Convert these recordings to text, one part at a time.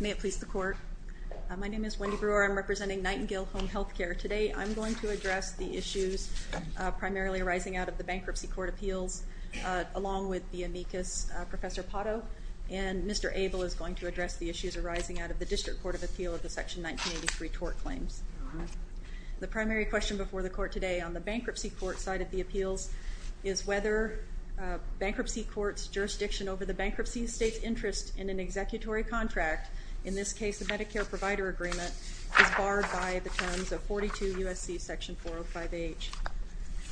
May it please the Court. My name is Wendy Brewer. I'm representing Nightingale Home Health Care. Today, I'm going to address the issues primarily arising out of the Bankruptcy Court Appeals, along with the amicus Professor Potto, and Mr. Abel is going to address the issues arising out of the District Court of Appeal of the Section 1983 Tort Claims. The primary question before the Court today on the Bankruptcy Court side of the Appeals is whether bankruptcy court's jurisdiction over the bankruptcy state's interest in an executory contract, in this case the Medicare Provider Agreement, is barred by the terms of 42 U.S.C. Section 405H.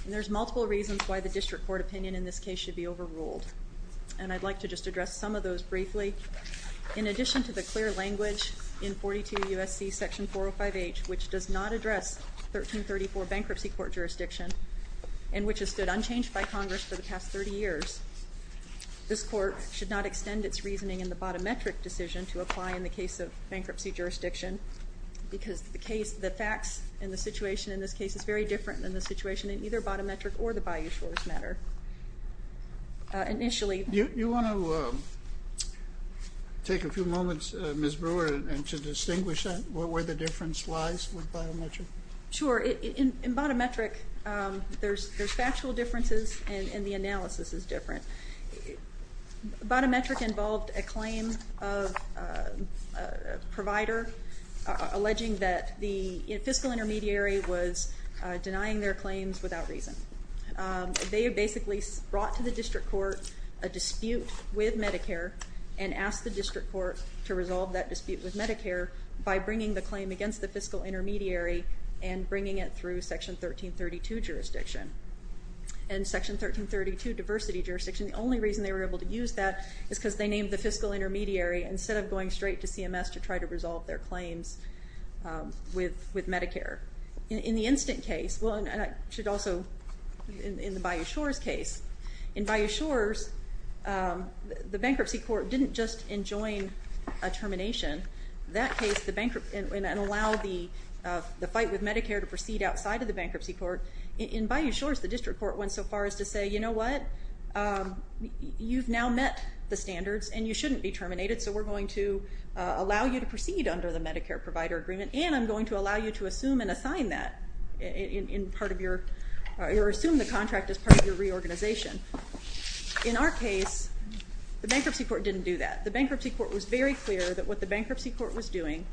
And there's multiple reasons why the District Court opinion in this case should be overruled, and I'd like to just address some of those briefly. In addition to the clear language in 42 U.S.C. Section 405H, which does not address 1334 bankruptcy court jurisdiction, and which has stood unchanged by Congress for the past 30 years, this Court should not extend its reasoning in the bottom metric decision to apply in the case of bankruptcy jurisdiction, because the case, the facts, and the situation in this case is very different than the situation in either bottom metric or the Bayou Shores matter. Initially... You want to take a few moments, Ms. Brewer, and to distinguish that, where the difference lies with bottom metric? Sure. In bottom metric, there's factual differences, and the analysis is different. Bottom metric involved a claim of a provider alleging that the fiscal intermediary was denying their claims without reason. They basically brought to the District Court a dispute with Medicare, and asked the District Court to resolve that dispute with Medicare by bringing the claim against the fiscal intermediary and bringing it through Section 1332 jurisdiction. And Section 1332, diversity jurisdiction, the only reason they were able to use that is because they named the fiscal intermediary instead of going straight to CMS to try to resolve their claims with Medicare. In the incident case, well, and I should also, in the Bayou Shores case, in Bayou Shores, the bankruptcy court didn't just enjoin a termination. That case, the bankruptcy, and allow the fight with Medicare to proceed outside of the bankruptcy court. In Bayou Shores, the District Court went so far as to say, you know what? You've now met the standards, and you shouldn't be terminated, so we're going to allow you to proceed under the Medicare provider agreement, and I'm going to allow you to assume and assign that in part of your, or assume the contract as part of your reorganization. In our case, the bankruptcy court didn't do that. The bankruptcy court was very clear that what the bankruptcy court was doing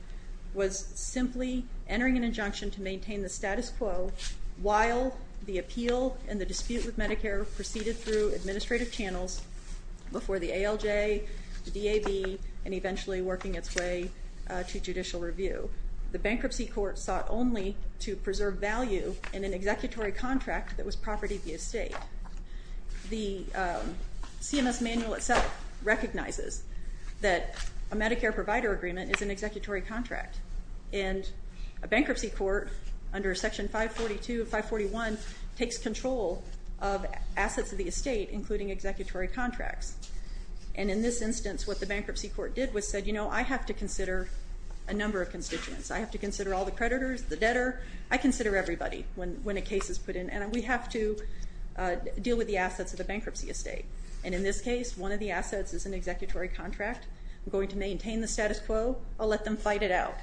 was simply entering an injunction to maintain the status quo while the appeal and the dispute with Medicare proceeded through administrative channels before the ALJ, the DAB, and eventually working its way to judicial review. The bankruptcy court sought only to preserve value in an executory contract that was property via state. The CMS manual itself recognizes that a Medicare provider agreement is an executory contract, and a bankruptcy court under Section 542 of 541 takes control of assets of the estate, including executory contracts. And in this instance, what the bankruptcy court did was said, you know, I have to consider a number of constituents. I have to consider all the creditors, the debtor. I consider everybody when a case is put in, and we have to deal with the assets of the bankruptcy estate. And in this case, one of the assets is an executory contract. I'm going to maintain the status quo. I'll let them fight it out.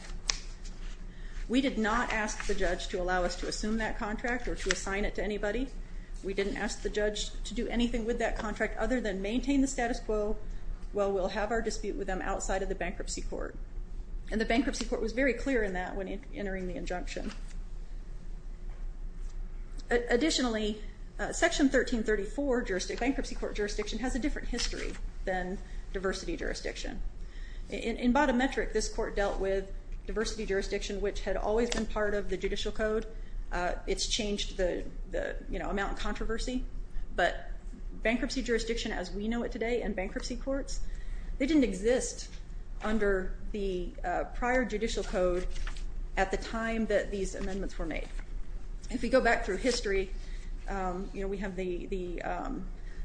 We did not ask the judge to allow us to assume that contract or to assign it to anybody. We didn't ask the judge to do anything with that contract other than maintain the status quo while we'll have our dispute with them outside of the bankruptcy court. And the bankruptcy court was very clear in that when entering the injunction. Additionally, Section 1334, bankruptcy court jurisdiction, has a different history than diversity jurisdiction. In bottom metric, this court dealt with diversity jurisdiction, which had always been part of the judicial code. It's changed the, you know, amount of controversy, but bankruptcy jurisdiction as we know it today, and bankruptcy courts, they didn't exist under the judicial code until these amendments were made. If we go back through history, you know, we have the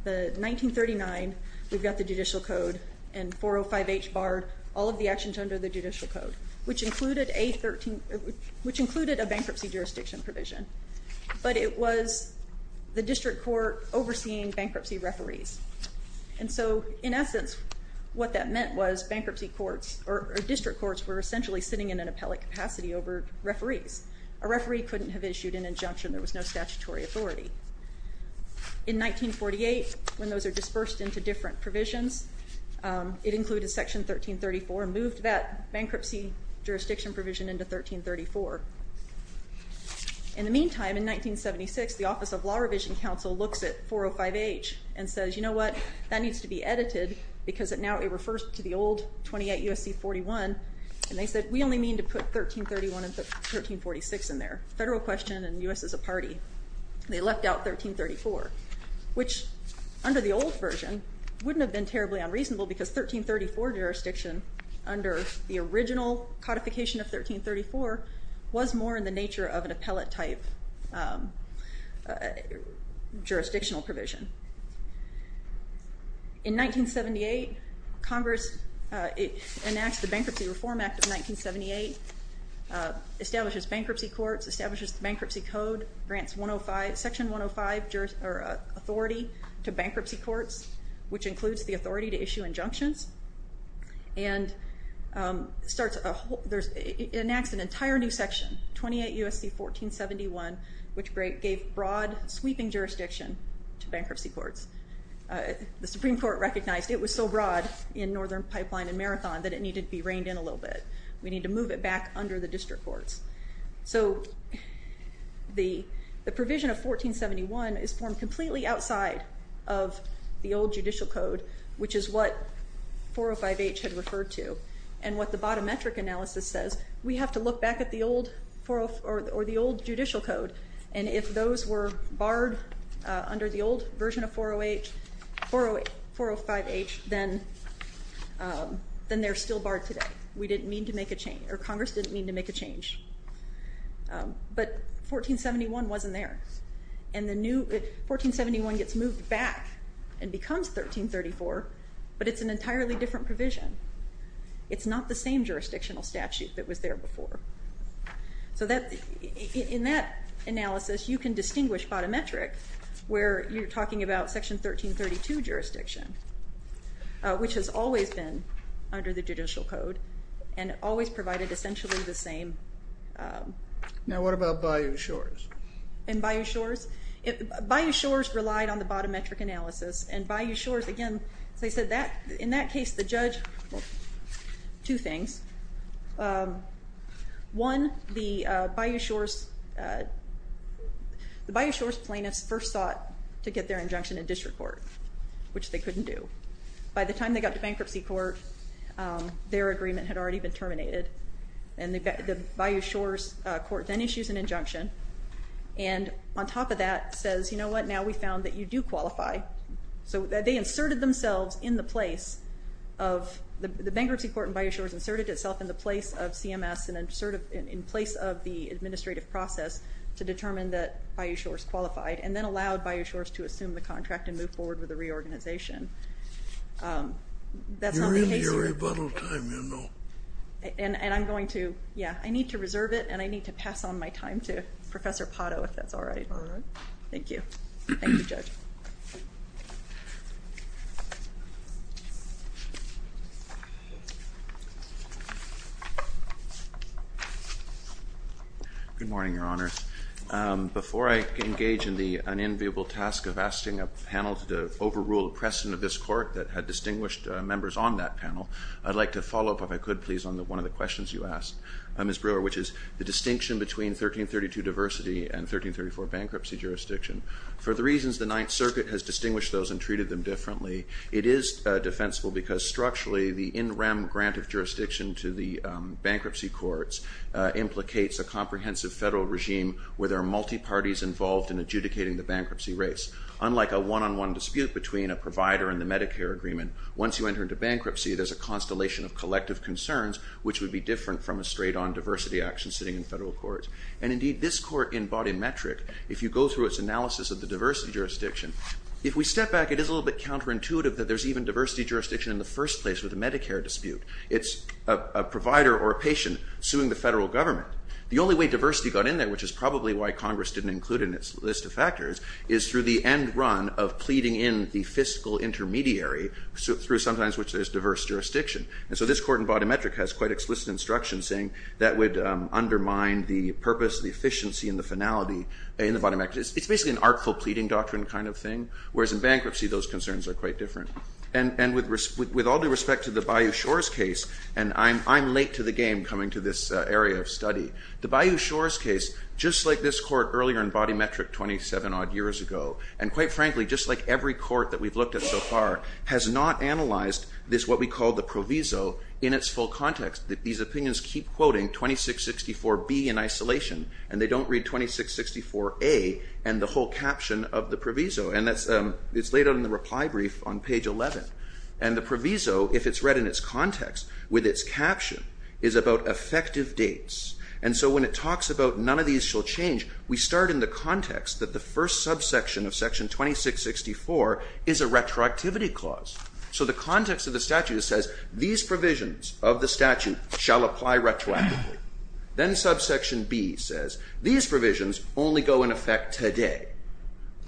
1939, we've got the judicial code, and 405H barred all of the actions under the judicial code, which included a 13, which included a bankruptcy jurisdiction provision. But it was the district court overseeing bankruptcy referees. And so in essence, what that meant was bankruptcy courts or district courts were essentially sitting in an appellate capacity over referees. A referee couldn't have issued an injunction. There was no statutory authority. In 1948, when those are dispersed into different provisions, it included Section 1334, moved that bankruptcy jurisdiction provision into 1334. In the meantime, in 1976, the Office of Law Revision Council looks at 405H and says, you know what, that needs to be edited because now it refers to the old 28 USC 41. And they said, we only mean to put 1331 and put 1346 in there. Federal question and U.S. is a party. They left out 1334, which, under the old version, wouldn't have been terribly unreasonable because 1334 jurisdiction, under the original codification of 1334, was more in the nature of an appellate type jurisdictional provision. In 1978, Congress enacts the Bankruptcy Reform Act of 1978, establishes bankruptcy courts, establishes the Bankruptcy Code, grants Section 105 authority to bankruptcy courts, which includes the authority to issue injunctions, and starts a whole, there's, it enacts an entire new section, 28 USC 1471, which gave broad sweeping jurisdiction to bankruptcy courts. The Supreme Court recognized it was so broad in Northern Pipeline and Marathon that it needed to be reined in a little bit. We need to move it back under the district courts. So the the provision of 1471 is formed completely outside of the old judicial code, which is what 405H had referred to, and what the bottom metric analysis says, we have to look back at the old 40, or the old judicial code, and if those were barred under the old version of 408, 408, 405H, then then they're still barred today. We didn't mean to make a change, or Congress didn't mean to make a change. But 1471 wasn't there, and the new, 1471 gets moved back and becomes 1334, but it's an entirely different provision. It's not the same jurisdictional statute that was there before. So that, in that analysis, you can distinguish bottom metric where you're talking about section 1332 jurisdiction, which has always been under the judicial code, and always provided essentially the same. Now, what about Bayou Shores? And Bayou Shores? Bayou Shores relied on the bottom metric analysis, and Bayou Shores, again, as I said, in that case the judge, two things. One, the Bayou Shores plaintiffs first sought to get their injunction in district court, which they couldn't do. By the time they got to bankruptcy court, their agreement had already been terminated, and the Bayou Shores court then issues an injunction, and on top of that says, you know what, now we found that you do qualify. So they inserted themselves in the place of, the bankruptcy court in Bayou Shores inserted itself in the place of CMS, and inserted in place of the qualified, and then allowed Bayou Shores to assume the contract and move forward with the reorganization. That's not the case. And I'm going to, yeah, I need to reserve it, and I need to pass on my time to Professor Pato, if that's all right. Thank you. Good morning, Your Honors. Before I engage in the unenviable task of asking a panel to overrule the precedent of this court that had distinguished members on that panel, I'd like to follow up, if I could please, on the one of the questions you asked, Ms. Brewer, which is the distinction between 1332 diversity and 1334 bankruptcy jurisdiction. For the reasons the Ninth Circuit has distinguished those and treated them differently, it is defensible because structurally the in-rem grant of jurisdiction to the bankruptcy courts implicates a comprehensive federal regime where there are multi-parties involved in adjudicating the bankruptcy race. Unlike a one-on-one dispute between a provider and the Medicare agreement, once you enter into bankruptcy, there's a constellation of collective concerns which would be different from a straight-on diversity action sitting in federal courts. And indeed, this court in body metric, if you go through its analysis of the diversity jurisdiction, if we step back, it is a little bit counterintuitive that there's even diversity jurisdiction in the first place with a Medicare dispute. It's a provider or a patient suing the federal government. The only way diversity got in there, which is probably why Congress didn't include it in its list of factors, is through the end run of pleading in the fiscal intermediary through sometimes which there's diverse jurisdiction. And so this court in body metric has quite explicit instruction saying that would undermine the purpose, the efficiency, and the finality in the body metric. It's basically an artful pleading doctrine kind of thing, whereas in bankruptcy, those concerns are quite different. And with all due respect to the Bayou Shores case, and I'm late to the game coming to this area of study. The Bayou Shores case, just like this court earlier in body metric 27 odd years ago, and quite frankly, just like every court that we've looked at so far, has not analyzed this, what we call the proviso, in its full context. These opinions keep quoting 2664B in isolation, and they don't read 2664A and the whole caption of the proviso. And that's, it's laid out in the reply brief on page 11. And the proviso, if it's read in its context with its caption, is about effective dates. And so when it talks about none of these shall change, we start in the context that the first subsection of section 2664 is a retroactivity clause. So the context of the statute says these provisions of the statute shall apply retroactively. Then subsection B says these provisions only go in effect today.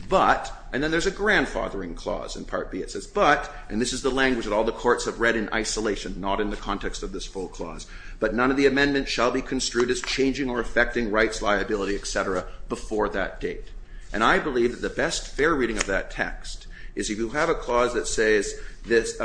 But, and then there's a grandfathering clause in part B, it says, but, and this is the language that all the courts have read in isolation, not in the context of this full clause, but none of the amendments shall be construed as changing or affecting rights, liability, etc. before that date. And I believe that the best fair reading of that text is if you have a clause that says this,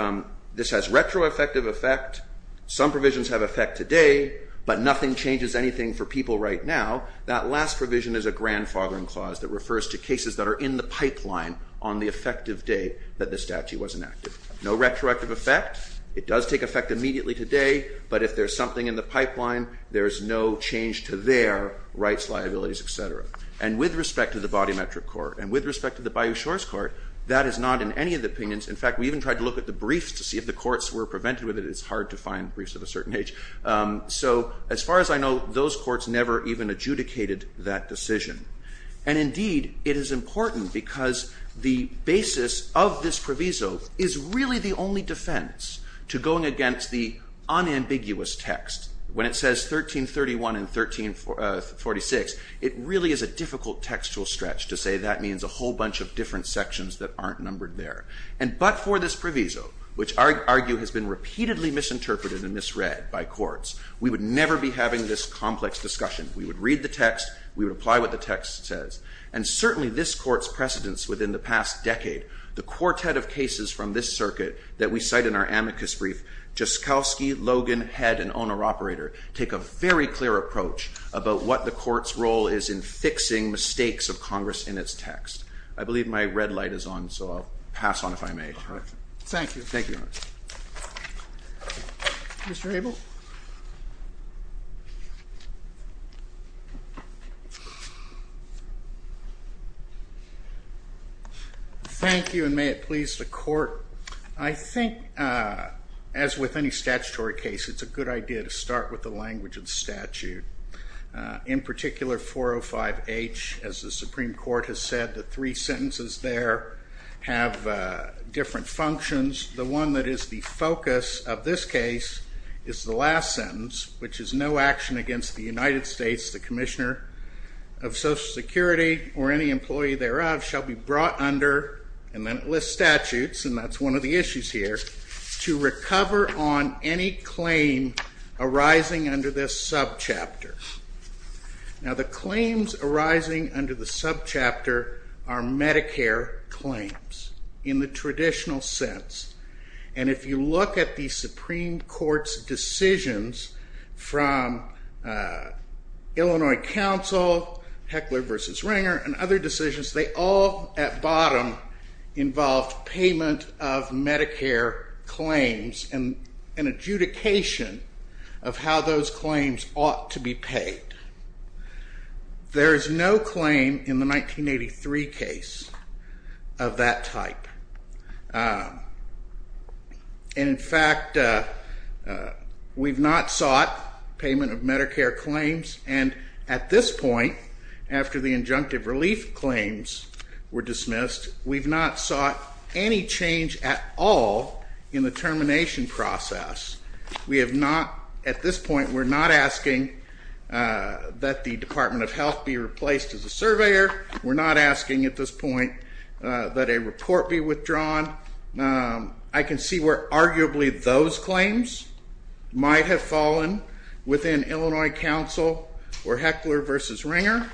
this has retroactive effect. Some provisions have effect today, but nothing changes anything for people right now. That last provision is a grandfathering clause that refers to cases that are in the pipeline on the effective date that the statute was enacted. No retroactive effect. It does take effect immediately today, but if there's something in the pipeline, there's no change to their rights, liabilities, etc. And with respect to the body metric court and with respect to the Bayou Shores Court, that is not in any of the opinions. In fact, we even tried to look at the briefs to see if the courts were prevented with it. It's hard to find briefs of a certain age. So as far as I know, those courts never even adjudicated that decision. And indeed, it is important because the basis of this proviso is really the only defense to going against the unambiguous text. When it says 1331 and 1346, it really is a difficult textual stretch to say that means a whole bunch of different sections that aren't numbered there. And but for this proviso, which I argue has been repeatedly misinterpreted and misread by courts, we would never be having this complex discussion. We would read the text. We would apply what the text says. And certainly this court's precedence within the past decade, the quartet of cases from this circuit that we cite in our amicus brief, Jaskowski, Logan, Head, and Owner-Operator, take a very clear approach about what the court's role is in fixing mistakes of Congress in its text. I believe my red light is on. So I'll pass on if I may. Thank you. Thank you. Mr. Abel? Thank you. And may it please the court, I think, as with any statutory case, it's a good idea to start with the language of the statute. In particular, 405H, as the Supreme Court has said, the three sentences there have different functions. The one that is the focus of this case is the last sentence, which is no action against the United States, the Commissioner of Social Security, or any employee thereof, shall be brought under, and then it lists statutes, and that's one of the issues here, to recover on any claim arising under this subchapter. Now the claims arising under the subchapter are Medicare claims in the traditional sense, and if you look at the Supreme Court's decisions from Illinois Council, Heckler versus Ringer, and other decisions, they all, at bottom, involved payment of Medicare claims and an adjudication of how those claims ought to be paid. There is no claim in the 1983 case of that type, and in fact, we've not sought payment of Medicare claims, and at this point, after the injunctive relief claims were dismissed, we've not sought any change at all in the termination process. We have not, at this point, we're not asking that the Department of Health be replaced as a surveyor. We're not asking at this point that a report be withdrawn. I can see where arguably those claims might have fallen within Illinois Council or Heckler versus Ringer,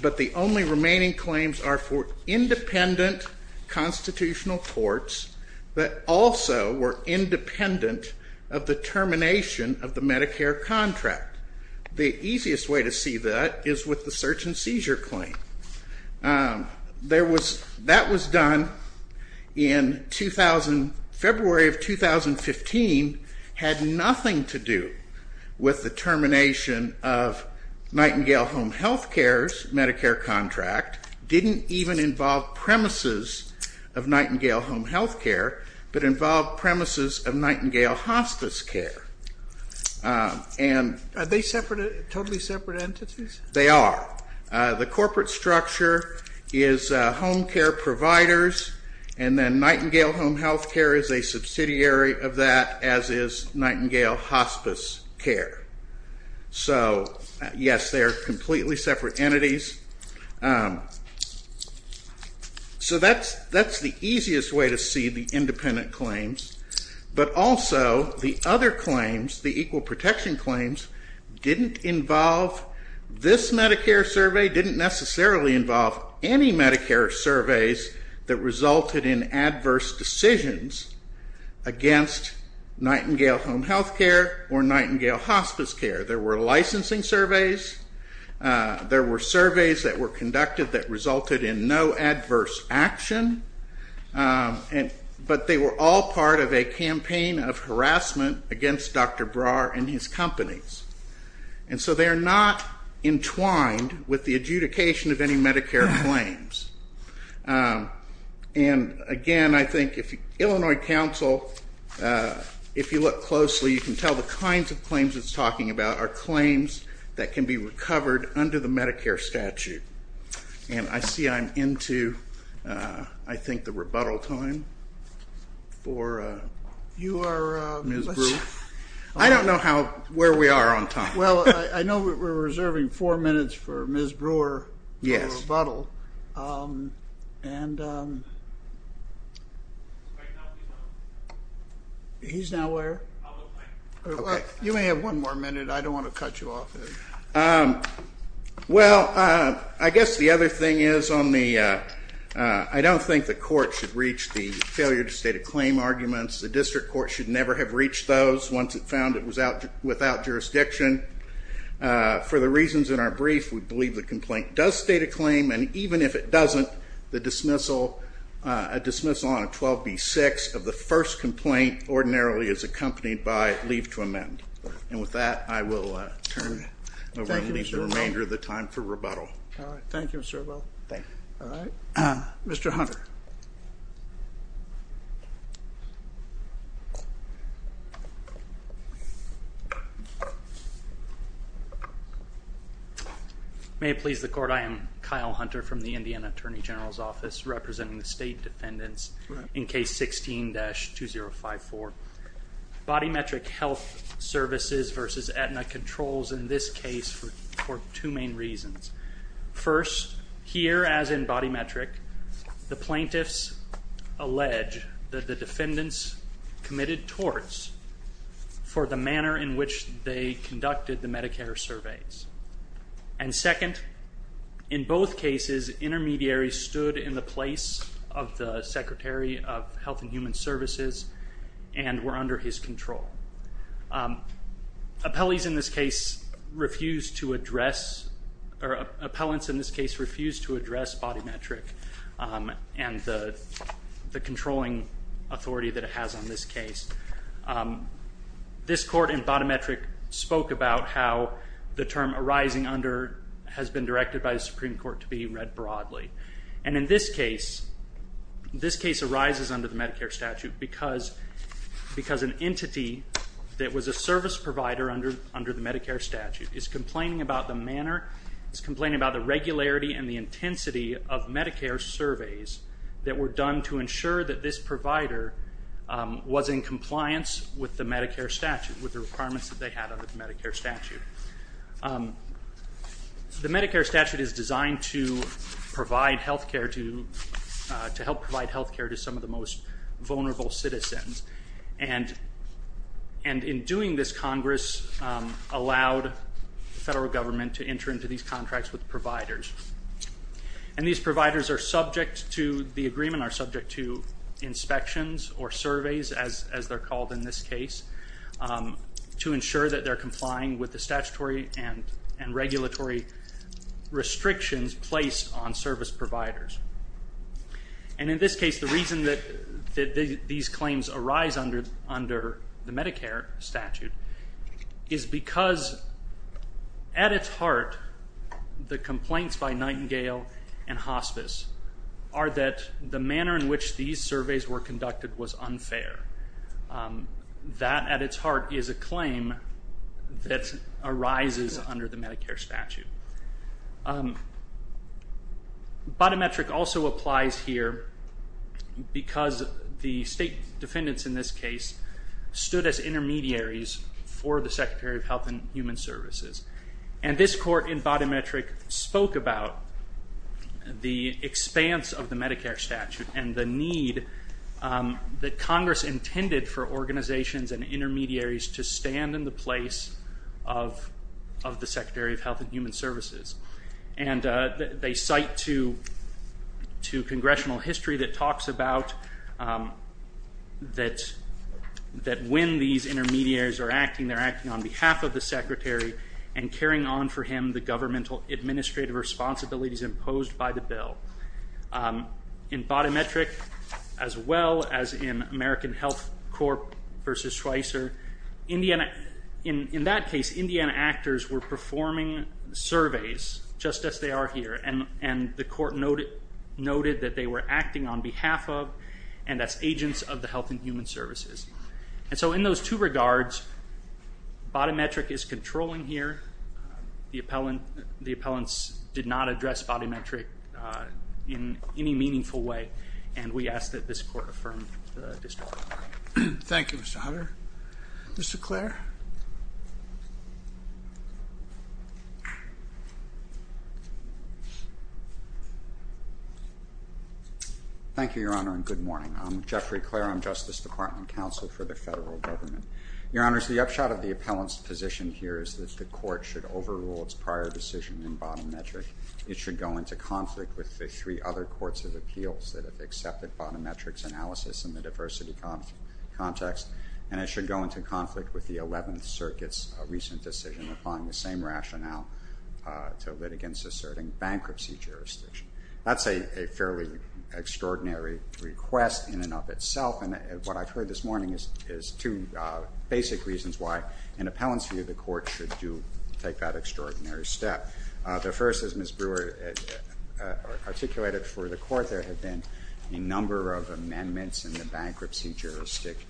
but the only remaining claims are for independent constitutional courts that also were independent of the termination of the Medicare contract. The easiest way to see that is with the search and seizure claim. There was, that was done in 2000, February of 2015, had nothing to do with the termination of Nightingale Home Health Care's Medicare contract. Didn't even involve premises of Nightingale Home Health Care, but involved premises of Nightingale Hospice Care, and Are they separate, totally separate entities? They are. The corporate structure is home care providers, and then Nightingale Home Health Care is a subsidiary of that, as is Nightingale Hospice Care. So, yes, they are completely separate entities. So that's the easiest way to see the independent claims. But also, the other claims, the equal protection claims, didn't involve, this Medicare survey didn't necessarily involve any Medicare surveys that resulted in adverse decisions against Nightingale Home Health Care or Nightingale Hospice Care. There were licensing surveys, there were surveys that were conducted that resulted in no adverse action, but they were all part of a campaign of harassment against Dr. Brar and his companies. And so they are not entwined with the adjudication of any Medicare claims. And again, I think, Illinois Council, if you look closely, you can tell the kinds of claims it's talking about are claims that can be recovered under the Medicare statute. And I see I'm into, I think, the rebuttal time for Ms. Brewer. I don't know where we are on time. Well, I know we're reserving four minutes for Ms. Brewer's rebuttal. He's now where? You may have one more minute. I don't want to cut you off. Well, I guess the other thing is on the, I don't think the court should reach the failure to state a claim arguments. The district court should never have reached those once it found it was without jurisdiction. For the reasons in our brief, we believe the complaint does state a claim. And even if it doesn't, the dismissal, a dismissal on 12B6 of the first complaint ordinarily is accompanied by leave to amend. And with that, I will turn it over to the remainder of the time for rebuttal. Thank you, Mr. Ewell. Thank you. All right. Mr. Hunter. May it please the court, I am Kyle Hunter from the Indiana Attorney General's Office representing the state defendants in Case 16-2054. Body metric health services versus Aetna controls in this case for two main reasons. First, here as in body metric, the plaintiffs allege that the defendants committed torts for the manner in which they conducted the Medicare surveys. And second, in both cases intermediaries stood in the place of the Secretary of Health and Human Services and were under his control. Appellees in this case refused to address or appellants in this case refused to address body metric and the controlling authority that it has on this case. This court in body metric spoke about how the term arising under has been directed by the Supreme Court to be read broadly. And in this case, this case arises under the Medicare statute because an entity that was a service provider under the Medicare statute is complaining about the manner, is complaining about the regularity and the intensity of Medicare surveys that were done to ensure that this provider was in compliance with the Medicare statute, with the requirements that they had under the Medicare statute. The Medicare statute is designed to provide health care to, to help provide health care to some of the most vulnerable citizens. And in doing this, Congress allowed the federal government to enter into these contracts with providers. And these providers are subject to, the agreement are subject to inspections or surveys as they're called in this case, to ensure that they're complying with the statutory and regulatory restrictions placed on service providers. And in this case, the reason that these claims arise under the Medicare statute is because at its heart, the complaints by Nightingale and Hospice are that the manner in which these surveys were conducted was unfair. That, at its heart, is a claim that arises under the Medicare statute. Bodymetric also applies here because the state defendants in this case stood as intermediaries for the Secretary of Health and Human Services. And this court in Bodymetric spoke about the expanse of the Medicare statute and the need that Congress intended for organizations and intermediaries to stand in the place of, of the Secretary of Health and Human Services. And they cite to, to congressional history that talks about that, that when these intermediaries are acting, they're acting on behalf of the Secretary and carrying on for him the governmental administrative responsibilities imposed by the bill. In Bodymetric, as well as in American Health Corp. versus Schweitzer, Indiana, in that case, Indiana actors were performing surveys just as they are here. And the court noted that they were acting on behalf of and as agents of the Health and Human Services. And so in those two regards, Bodymetric is controlling here. The appellant, the appellants did not address Bodymetric in any meaningful way. And we ask that this court affirm the district. Thank you, Mr. Hunter. Mr. Clair? Thank you, Your Honor, and good morning. I'm Jeffrey Clair. I'm Justice Department Counsel for the Federal Government. Your Honors, the upshot of the appellant's position here is that the court should overrule its prior decision in Bodymetric. It should go into conflict with the three other courts of appeals that have accepted Bodymetric's analysis in the diversity context, and it should go into conflict with the Eleventh Circuit's recent decision applying the same rationale to litigants asserting bankruptcy jurisdiction. That's a fairly extraordinary request in and of itself, and what I've heard this morning is two basic reasons why an appellant's view of the court should do take that extraordinary step. The first, as Ms. Brewer articulated for the court, there have been a number of amendments in the bankruptcy jurisdiction,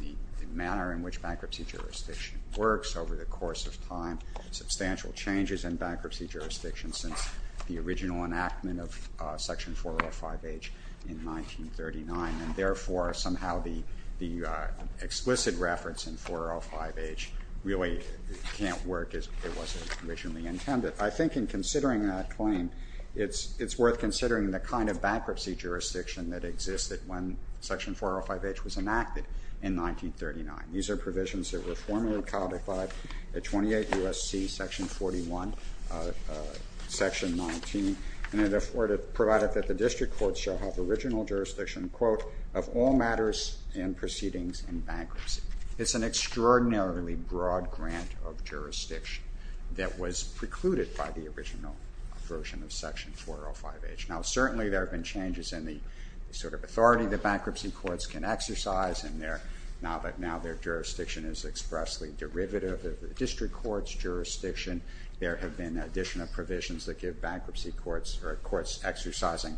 the manner in which bankruptcy jurisdiction works over the course of time, substantial changes in bankruptcy jurisdiction since the original enactment of Section 405H in 1939, and therefore somehow the explicit reference in 405H really can't work as it was originally intended. I think in considering that claim, it's worth considering the kind of bankruptcy jurisdiction that existed when Section 405H was enacted in 1939. These are provisions that were formally codified at 28 U.S.C. Section 41, Section 19, and it provided that the district court shall have original jurisdiction, quote, of all matters and proceedings in bankruptcy. It's an extraordinarily broad grant of jurisdiction that was precluded by the original version of Section 405H. Now, certainly there have been changes in the sort of authority that bankruptcy courts can exercise, and now their jurisdiction is expressly derivative of the district court's jurisdiction. There have been additional provisions that give bankruptcy courts or courts exercising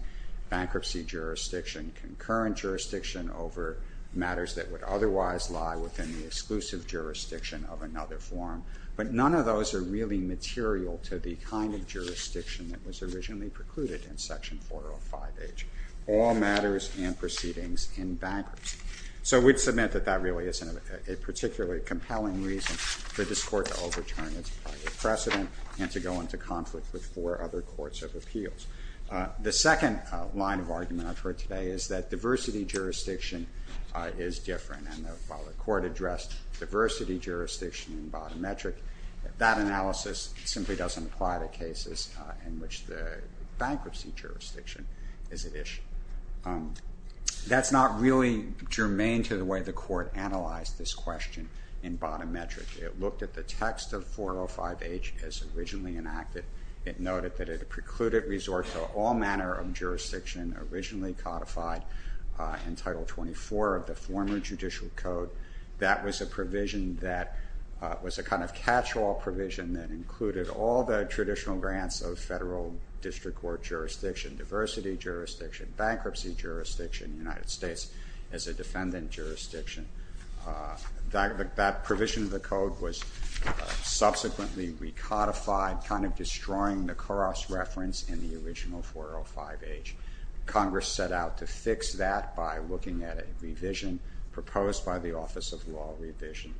bankruptcy jurisdiction, concurrent jurisdiction over matters that would otherwise lie within the exclusive jurisdiction of another form, but none of those are really material to the kind of jurisdiction that was originally precluded in Section 405H, all matters and proceedings in bankruptcy. So we'd submit that that really isn't a particularly compelling reason for this Court to overturn its project. It's a precedent and to go into conflict with four other courts of appeals. The second line of argument I've heard today is that diversity jurisdiction is different, and while the Court addressed diversity jurisdiction in bottom metric, that analysis simply doesn't apply to cases in which the bankruptcy jurisdiction is at issue. That's not really germane to the way the Court analyzed this question in bottom metric. It looked at the text of 405H as originally enacted. It noted that it precluded resorts to all manner of jurisdiction originally codified in Title 24 of the former judicial code. That was a provision that was a kind of catch-all provision that included all the traditional grants of federal district court jurisdiction, diversity jurisdiction, bankruptcy jurisdiction, United States as a defendant jurisdiction. That provision of the code was subsequently recodified, kind of destroying the Coras reference in the original 405H. Congress set out to fix that by looking at a revision proposed by the Office of Law Revision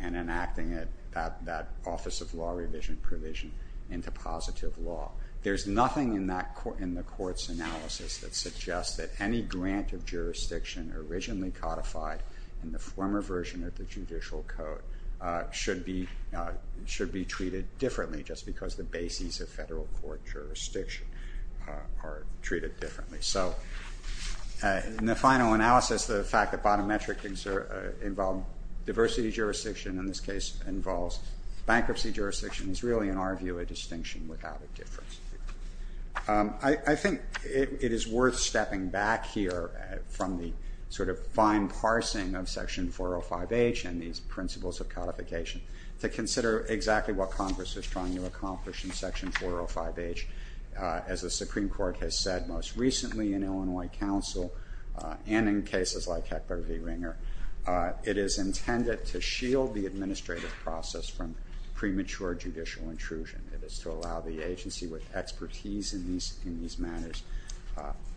and enacting that Office of Law Revision provision into positive law. There's nothing in the Court's analysis that suggests that any grant of jurisdiction originally codified in the former version of the judicial code should be treated differently, just because the bases of federal court jurisdiction are treated differently. So in the final analysis, the fact that bottom metric involved diversity jurisdiction in this case, involves bankruptcy jurisdiction, is really, in our view, a distinction without a difference. I think it is worth stepping back here from the sort of fine parsing of Section 405H and these principles of codification to consider exactly what Congress is trying to accomplish in Section 405H. As the Supreme Court has said most recently in Illinois Council and in cases like Heckler v. Ringer, it is intended to shield the administrative process from premature judicial intrusion. It is to allow the agency with expertise in these matters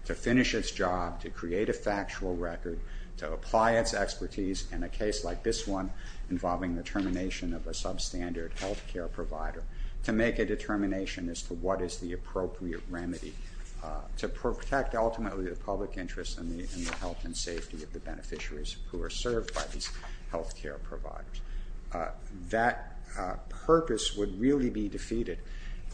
to finish its job, to create a factual record, to apply its expertise in a case like this one, involving the termination of a substandard health care provider, to make a determination as to what is the appropriate remedy to protect ultimately the public interest and the health and safety of the beneficiaries who are served by these health care providers. That purpose would really be defeated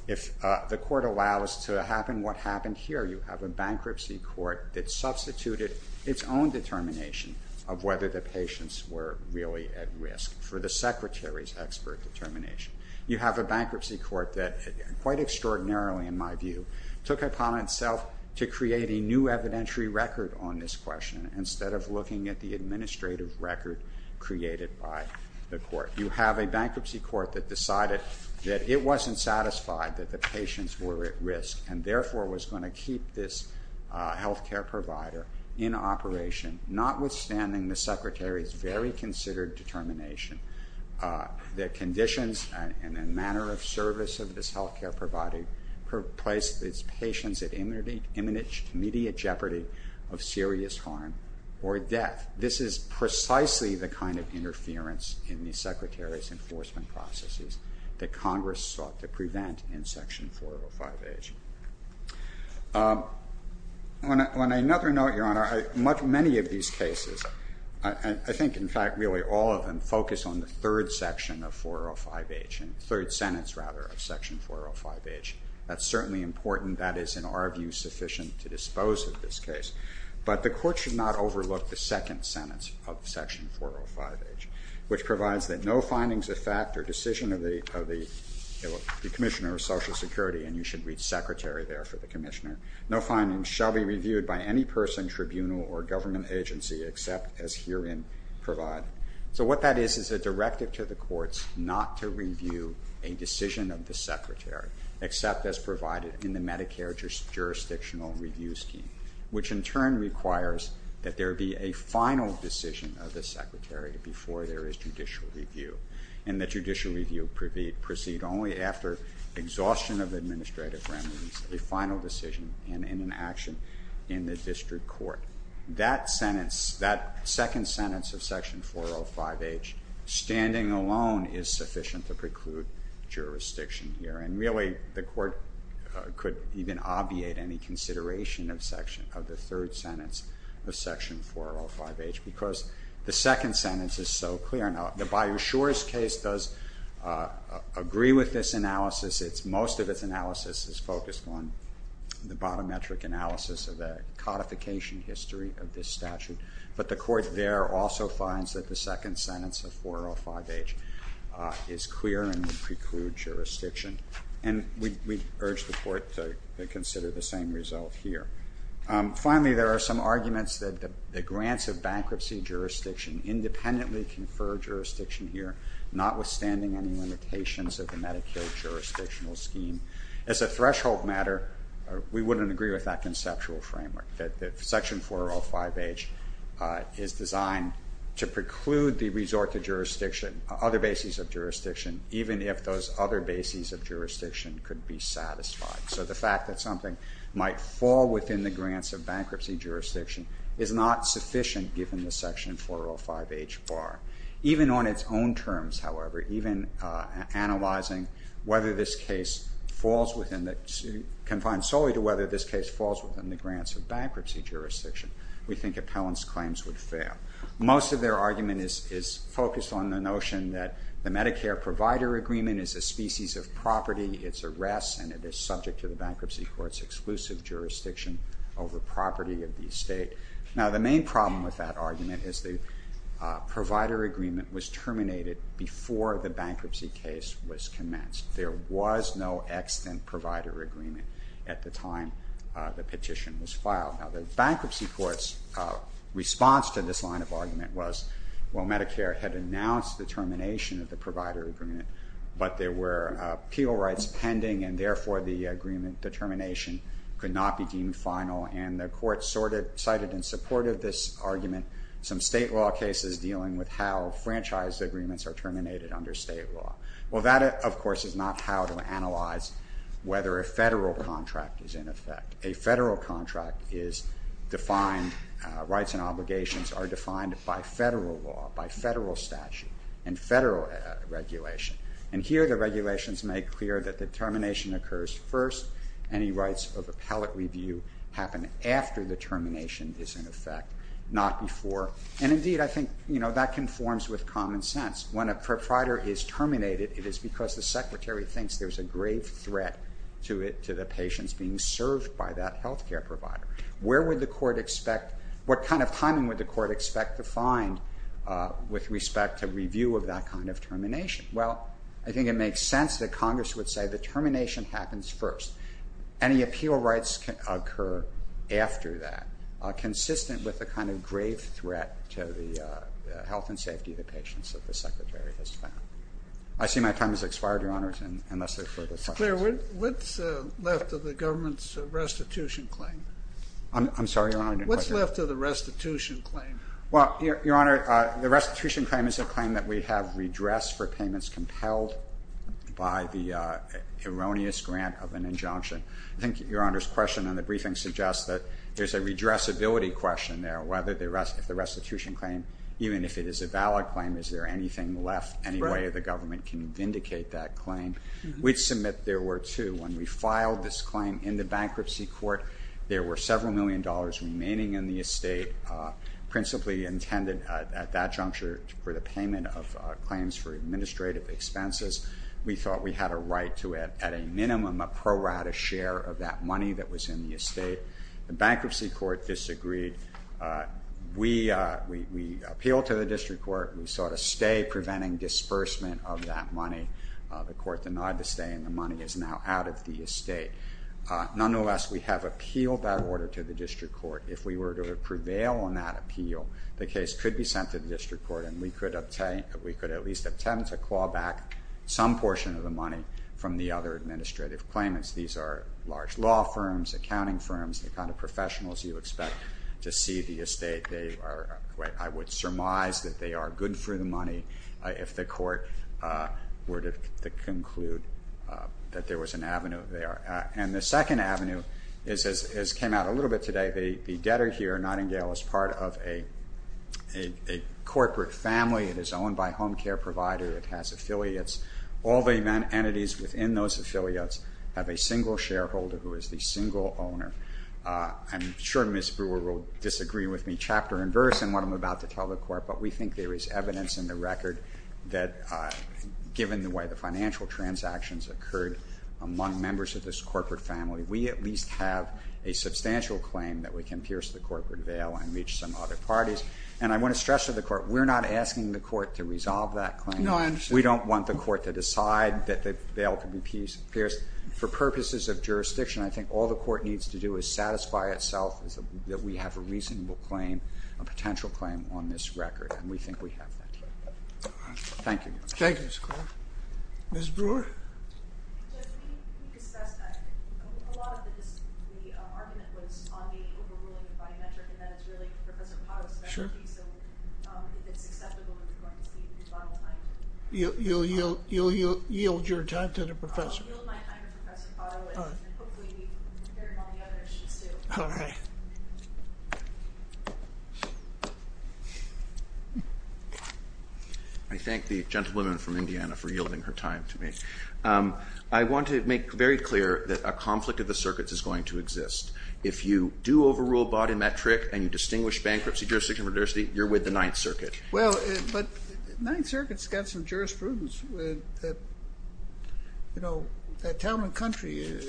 if the court allows to happen what happened here. You have a bankruptcy court that substituted its own determination of whether the patients were really at risk for the secretary's expert determination. You have a bankruptcy court that, quite extraordinarily in my view, took it upon itself to create a new evidentiary record on this question instead of looking at the administrative record created by the court. You have a bankruptcy court that decided that it wasn't satisfied that the patients were at risk and therefore was going to keep this health care provider in operation, notwithstanding the secretary's very considered determination. The conditions and the manner of service of this health care provider placed its patients at immediate jeopardy of serious harm or death. This is precisely the kind of interference in the secretary's enforcement processes that Congress sought to prevent in Section 405H. On another note, Your Honor, many of these cases, I think in fact really all of them focus on the third section of 405H, the third sentence rather of Section 405H. That's certainly important. That is in our view sufficient to dispose of this case. But the court should not overlook the second sentence of Section 405H, which provides that no findings of fact or decision of the commissioner of Social Security, and you should read secretary there for the commissioner, no findings shall be reviewed by any person, tribunal, or government agency except as herein provide. So what that is is a directive to the courts not to review a decision of the secretary except as provided in the Medicare jurisdictional review scheme, which in turn requires that there be a final decision of the secretary before there is judicial review. And the judicial review proceed only after exhaustion of administrative remedies, a final decision, and in an action in the district court. That sentence, that second sentence of Section 405H, standing alone is sufficient to preclude jurisdiction here. And really the court could even obviate any consideration of the third sentence of Section 405H because the second sentence is so clear. Now the Bayou Shores case does agree with this analysis. Most of its analysis is focused on the bottom metric analysis of the codification history of this statute. But the court there also finds that the second sentence of 405H is clear and precludes jurisdiction. And we urge the court to consider the same result here. Finally, there are some arguments that the grants of bankruptcy jurisdiction independently confer jurisdiction here, notwithstanding any limitations of the Medicare jurisdictional scheme. As a threshold matter, we wouldn't agree with that conceptual framework, that Section 405H is designed to preclude the resort to jurisdiction, other bases of jurisdiction, even if those other bases of jurisdiction could be satisfied. So the fact that something might fall within the grants of bankruptcy jurisdiction is not sufficient given the Section 405H bar. Even on its own terms, however, even analyzing whether this case falls within the... confined solely to whether this case falls within the grants of bankruptcy jurisdiction, we think appellant's claims would fail. Most of their argument is focused on the notion that the Medicare provider agreement is a species of property, it's a rest, and it is subject to the bankruptcy court's exclusive jurisdiction over property of the estate. Now the main problem with that argument is the provider agreement was terminated before the bankruptcy case was commenced. There was no extant provider agreement at the time the petition was filed. Now the bankruptcy court's response to this line of argument was, well, Medicare had announced the termination of the provider agreement, but there were appeal rights pending, and therefore the agreement determination could not be deemed final, and the court cited in support of this argument some state law cases dealing with how franchise agreements are terminated under state law. Well, that, of course, is not how to analyze whether a federal contract is in effect. A federal contract is defined... rights and obligations are defined by federal law, by federal statute, and federal regulation. And here the regulations make clear that the termination occurs first. Any rights of appellate review happen after the termination is in effect, not before. And indeed, I think, you know, that conforms with common sense. When a provider is terminated, it is because the secretary thinks there's a grave threat to it, to the patients being served by that health care provider. Where would the court expect... what kind of timing would the court expect to find with respect to review of that kind of termination? Well, I think it makes sense that Congress would say the termination happens first. Any appeal rights can occur after that. Consistent with the kind of grave threat to the health and safety of the patients that the secretary has found. I see my time has expired, Your Honor, unless there are further questions. What's left of the government's restitution claim? I'm sorry, Your Honor, I didn't quite hear you. What's left of the restitution claim? Well, Your Honor, the restitution claim is a claim that we have redress for payments compelled by the erroneous grant of an injunction. I think Your Honor's question in the briefing suggests that there's a redressability question there. If the restitution claim, even if it is a valid claim, is there anything left, any way the government can vindicate that claim? We'd submit there were two. When we filed this claim in the bankruptcy court, there were several million dollars remaining in the estate, principally intended at that juncture for the payment of claims for administrative expenses. We thought we had a right to, at a minimum, prorate a share of that money that was in the estate. The bankruptcy court disagreed. We appealed to the district court. We sought a stay, preventing disbursement of that money. The court denied the stay, and the money is now out of the estate. Nonetheless, we have appealed that order to the district court. If we were to prevail on that appeal, the case could be sent to the district court, and we could at least attempt to claw back some portion of the money from the other administrative claimants. These are large law firms, accounting firms, the kind of professionals you expect to see the estate. I would surmise that they are good for the money if the court were to conclude that there was an avenue there. And the second avenue, as came out a little bit today, the debtor here, Nottingdale, is part of a corporate family. It is owned by a home care provider. It has affiliates. All the entities within those affiliates have a single shareholder who is the single owner. I'm sure Ms. Brewer will disagree with me chapter and verse in what I'm about to tell the court, but we think there is evidence in the record that given the way the financial transactions occurred among members of this corporate family, we at least have a substantial claim that we can pierce the corporate veil and reach some other parties. And I want to stress to the court, we're not asking the court to resolve that claim. No, I understand. We don't want the court to decide that the veil can be pierced. For purposes of jurisdiction, I think all the court needs to do is satisfy itself that we have a reasonable claim, a potential claim on this record, and we think we have that here. Thank you, Your Honor. Thank you, Mr. Cole. Ms. Brewer? We discussed that. A lot of the argument was on the overruling of biometric, and that is really Professor Potto's specialty, so if it's acceptable, we're going to see the bottom line. You'll yield your time to the professor? I'll yield my time to Professor Potto, and hopefully we've heard all the other issues, too. All right. I thank the gentlewoman from Indiana for yielding her time to me. I want to make very clear that a conflict of the circuits is going to exist. If you do overrule biometric and you distinguish bankruptcy jurisdiction from diversity, you're with the Ninth Circuit. Well, but the Ninth Circuit's got some jurisprudence. You know, that town and country is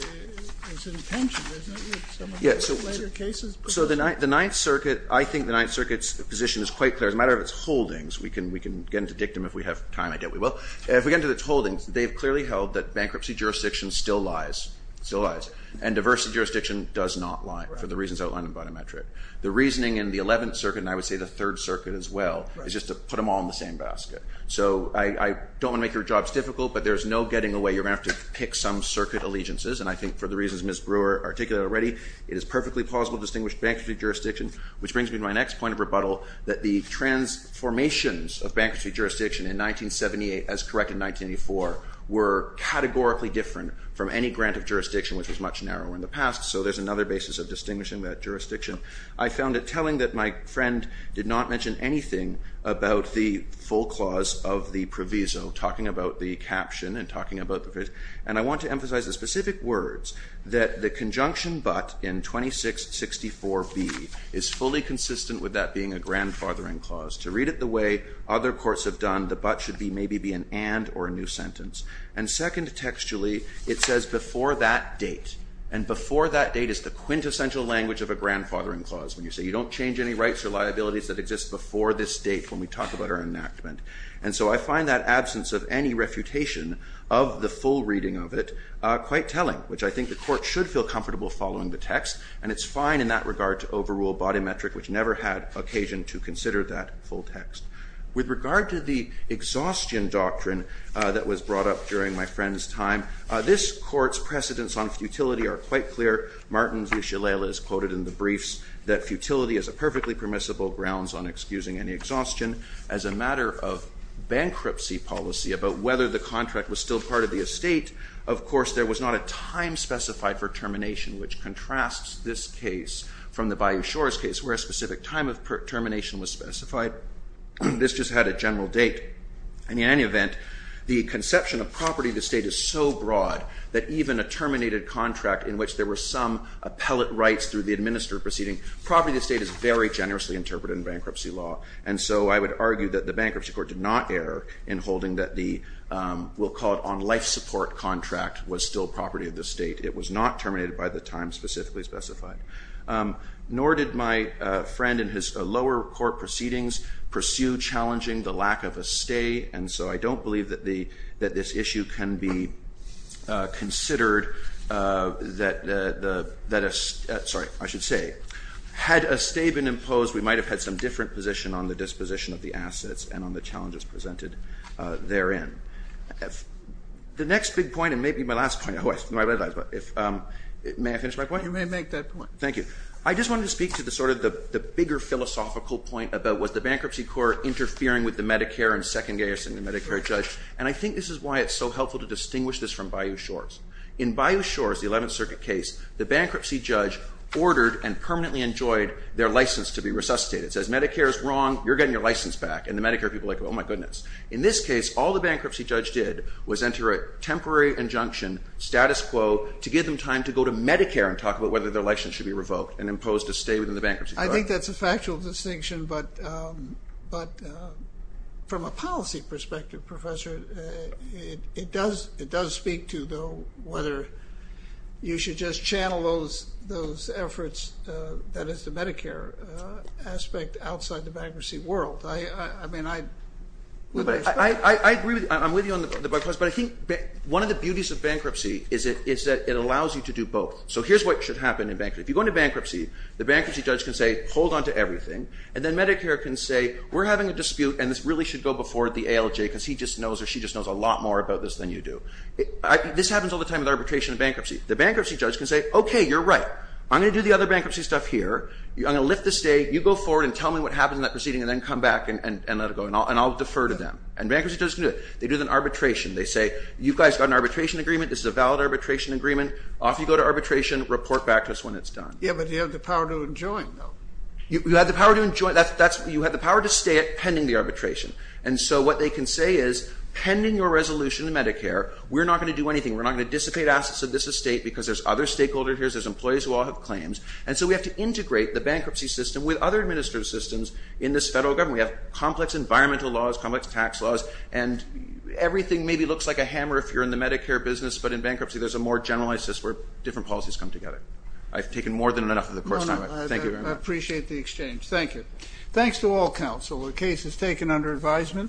in tension, isn't it, with some of the later cases? So the Ninth Circuit, I think the Ninth Circuit's position is quite clear. As a matter of its holdings, we can get into dictum if we have time, I doubt we will. If we get into its holdings, they've clearly held that bankruptcy jurisdiction still lies, still lies, and diversity jurisdiction does not lie, for the reasons outlined in biometric. The reasoning in the Eleventh Circuit, and I would say the Third Circuit as well, is just to put them all in the same basket. So I don't want to make your jobs difficult, but there's no getting away. You're going to have to pick some circuit allegiances, and I think for the reasons Ms. Brewer articulated already, it is perfectly plausible to distinguish bankruptcy jurisdiction, which brings me to my next point of rebuttal, that the transformations of bankruptcy jurisdiction in 1978, as corrected in 1984, were categorically different from any grant of jurisdiction which was much narrower in the past, so there's another basis of distinguishing that jurisdiction. I found it telling that my friend did not mention anything about the full clause of the proviso, talking about the caption and talking about the phrase. And I want to emphasize the specific words that the conjunction but in 2664B is fully consistent with that being a grandfathering clause. To read it the way other courts have done, the but should maybe be an and or a new sentence. And second textually, it says before that date. And before that date is the quintessential language of a grandfathering clause when you say you don't change any rights or liabilities that exist before this date when we talk about our enactment. And so I find that absence of any refutation of the full reading of it quite telling, which I think the court should feel comfortable following the text, and it's fine in that regard to overrule body metric, which never had occasion to consider that full text. With regard to the exhaustion doctrine that was brought up during my friend's time, this court's precedents on futility are quite clear. Martin's Ushalela is quoted in the briefs that futility is a perfectly permissible grounds on excusing any exhaustion. As a matter of bankruptcy policy about whether the contract was still part of the estate, of course there was not a time specified for termination which contrasts this case from the Bayou Shores case where a specific time of termination was specified. This just had a general date. And in any event, the conception of property of the state is so broad that even a terminated contract in which there were some appellate rights through the administrative proceeding, property of the state is very generously interpreted in bankruptcy law, and so I would argue that the bankruptcy court did not err in holding that the, we'll call it on life support contract, was still property of the state. It was not terminated by the time specifically specified. Nor did my friend in his lower court proceedings pursue challenging the lack of a stay, and so I don't believe that the, that this issue can be considered that a, sorry, I should say, had a stay been imposed, we might have had some different position on the disposition of the assets and on the challenges presented therein. The next big point, and maybe my last point, may I finish my point? You may make that point. Thank you. I just wanted to speak to the sort of, the bigger philosophical point about was the bankruptcy court interfering with the Medicare and second guessing the Medicare judge, and I think this is why it's so helpful to distinguish this from Bayou Shores. In Bayou Shores, the 11th Circuit case, the bankruptcy judge ordered and permanently enjoyed their license to be resuscitated. It says Medicare is wrong, you're getting your license back, and the Medicare people are like, oh my goodness. In this case, all the bankruptcy judge did was enter a temporary injunction status quo to give them time to go to Medicare and talk about whether their license should be revoked and imposed to stay within the bankruptcy court. I think that's a factual distinction, but from a policy perspective, Professor, it does speak to, though, whether you should just channel those efforts, that is, the Medicare aspect, outside the bankruptcy world. I mean, I... I agree. I'm with you on the point, but I think one of the beauties of bankruptcy is that it allows you to do both. So here's what should happen in bankruptcy. The bankruptcy judge can say, hold on to everything, and then Medicare can say, we're having a dispute, and this really should go before the ALJ, because he just knows or she just knows a lot more about this than you do. This happens all the time with arbitration and bankruptcy. The bankruptcy judge can say, okay, you're right. I'm going to do the other bankruptcy stuff here. I'm going to lift the state. You go forward and tell me what happened in that proceeding, and then come back and let it go, and I'll defer to them. And bankruptcy judges can do it. They do it in arbitration. They say, you guys got an arbitration agreement. This is a valid arbitration agreement. Off you go to arbitration. Report back to us when it's done. You had the power to enjoin, though. You had the power to enjoin. You had the power to stay pending the arbitration. And so what they can say is, pending your resolution in Medicare, we're not going to do anything. We're not going to dissipate assets of this estate because there's other stakeholders here. There's employees who all have claims. And so we have to integrate the bankruptcy system with other administrative systems in this federal government. We have complex environmental laws, complex tax laws, and everything maybe looks like a hammer if you're in the Medicare business, but in bankruptcy there's a more generalized system than in the Medicare business. I appreciate the exchange. Thank you. Thanks to all counsel. The case is taken under advisement.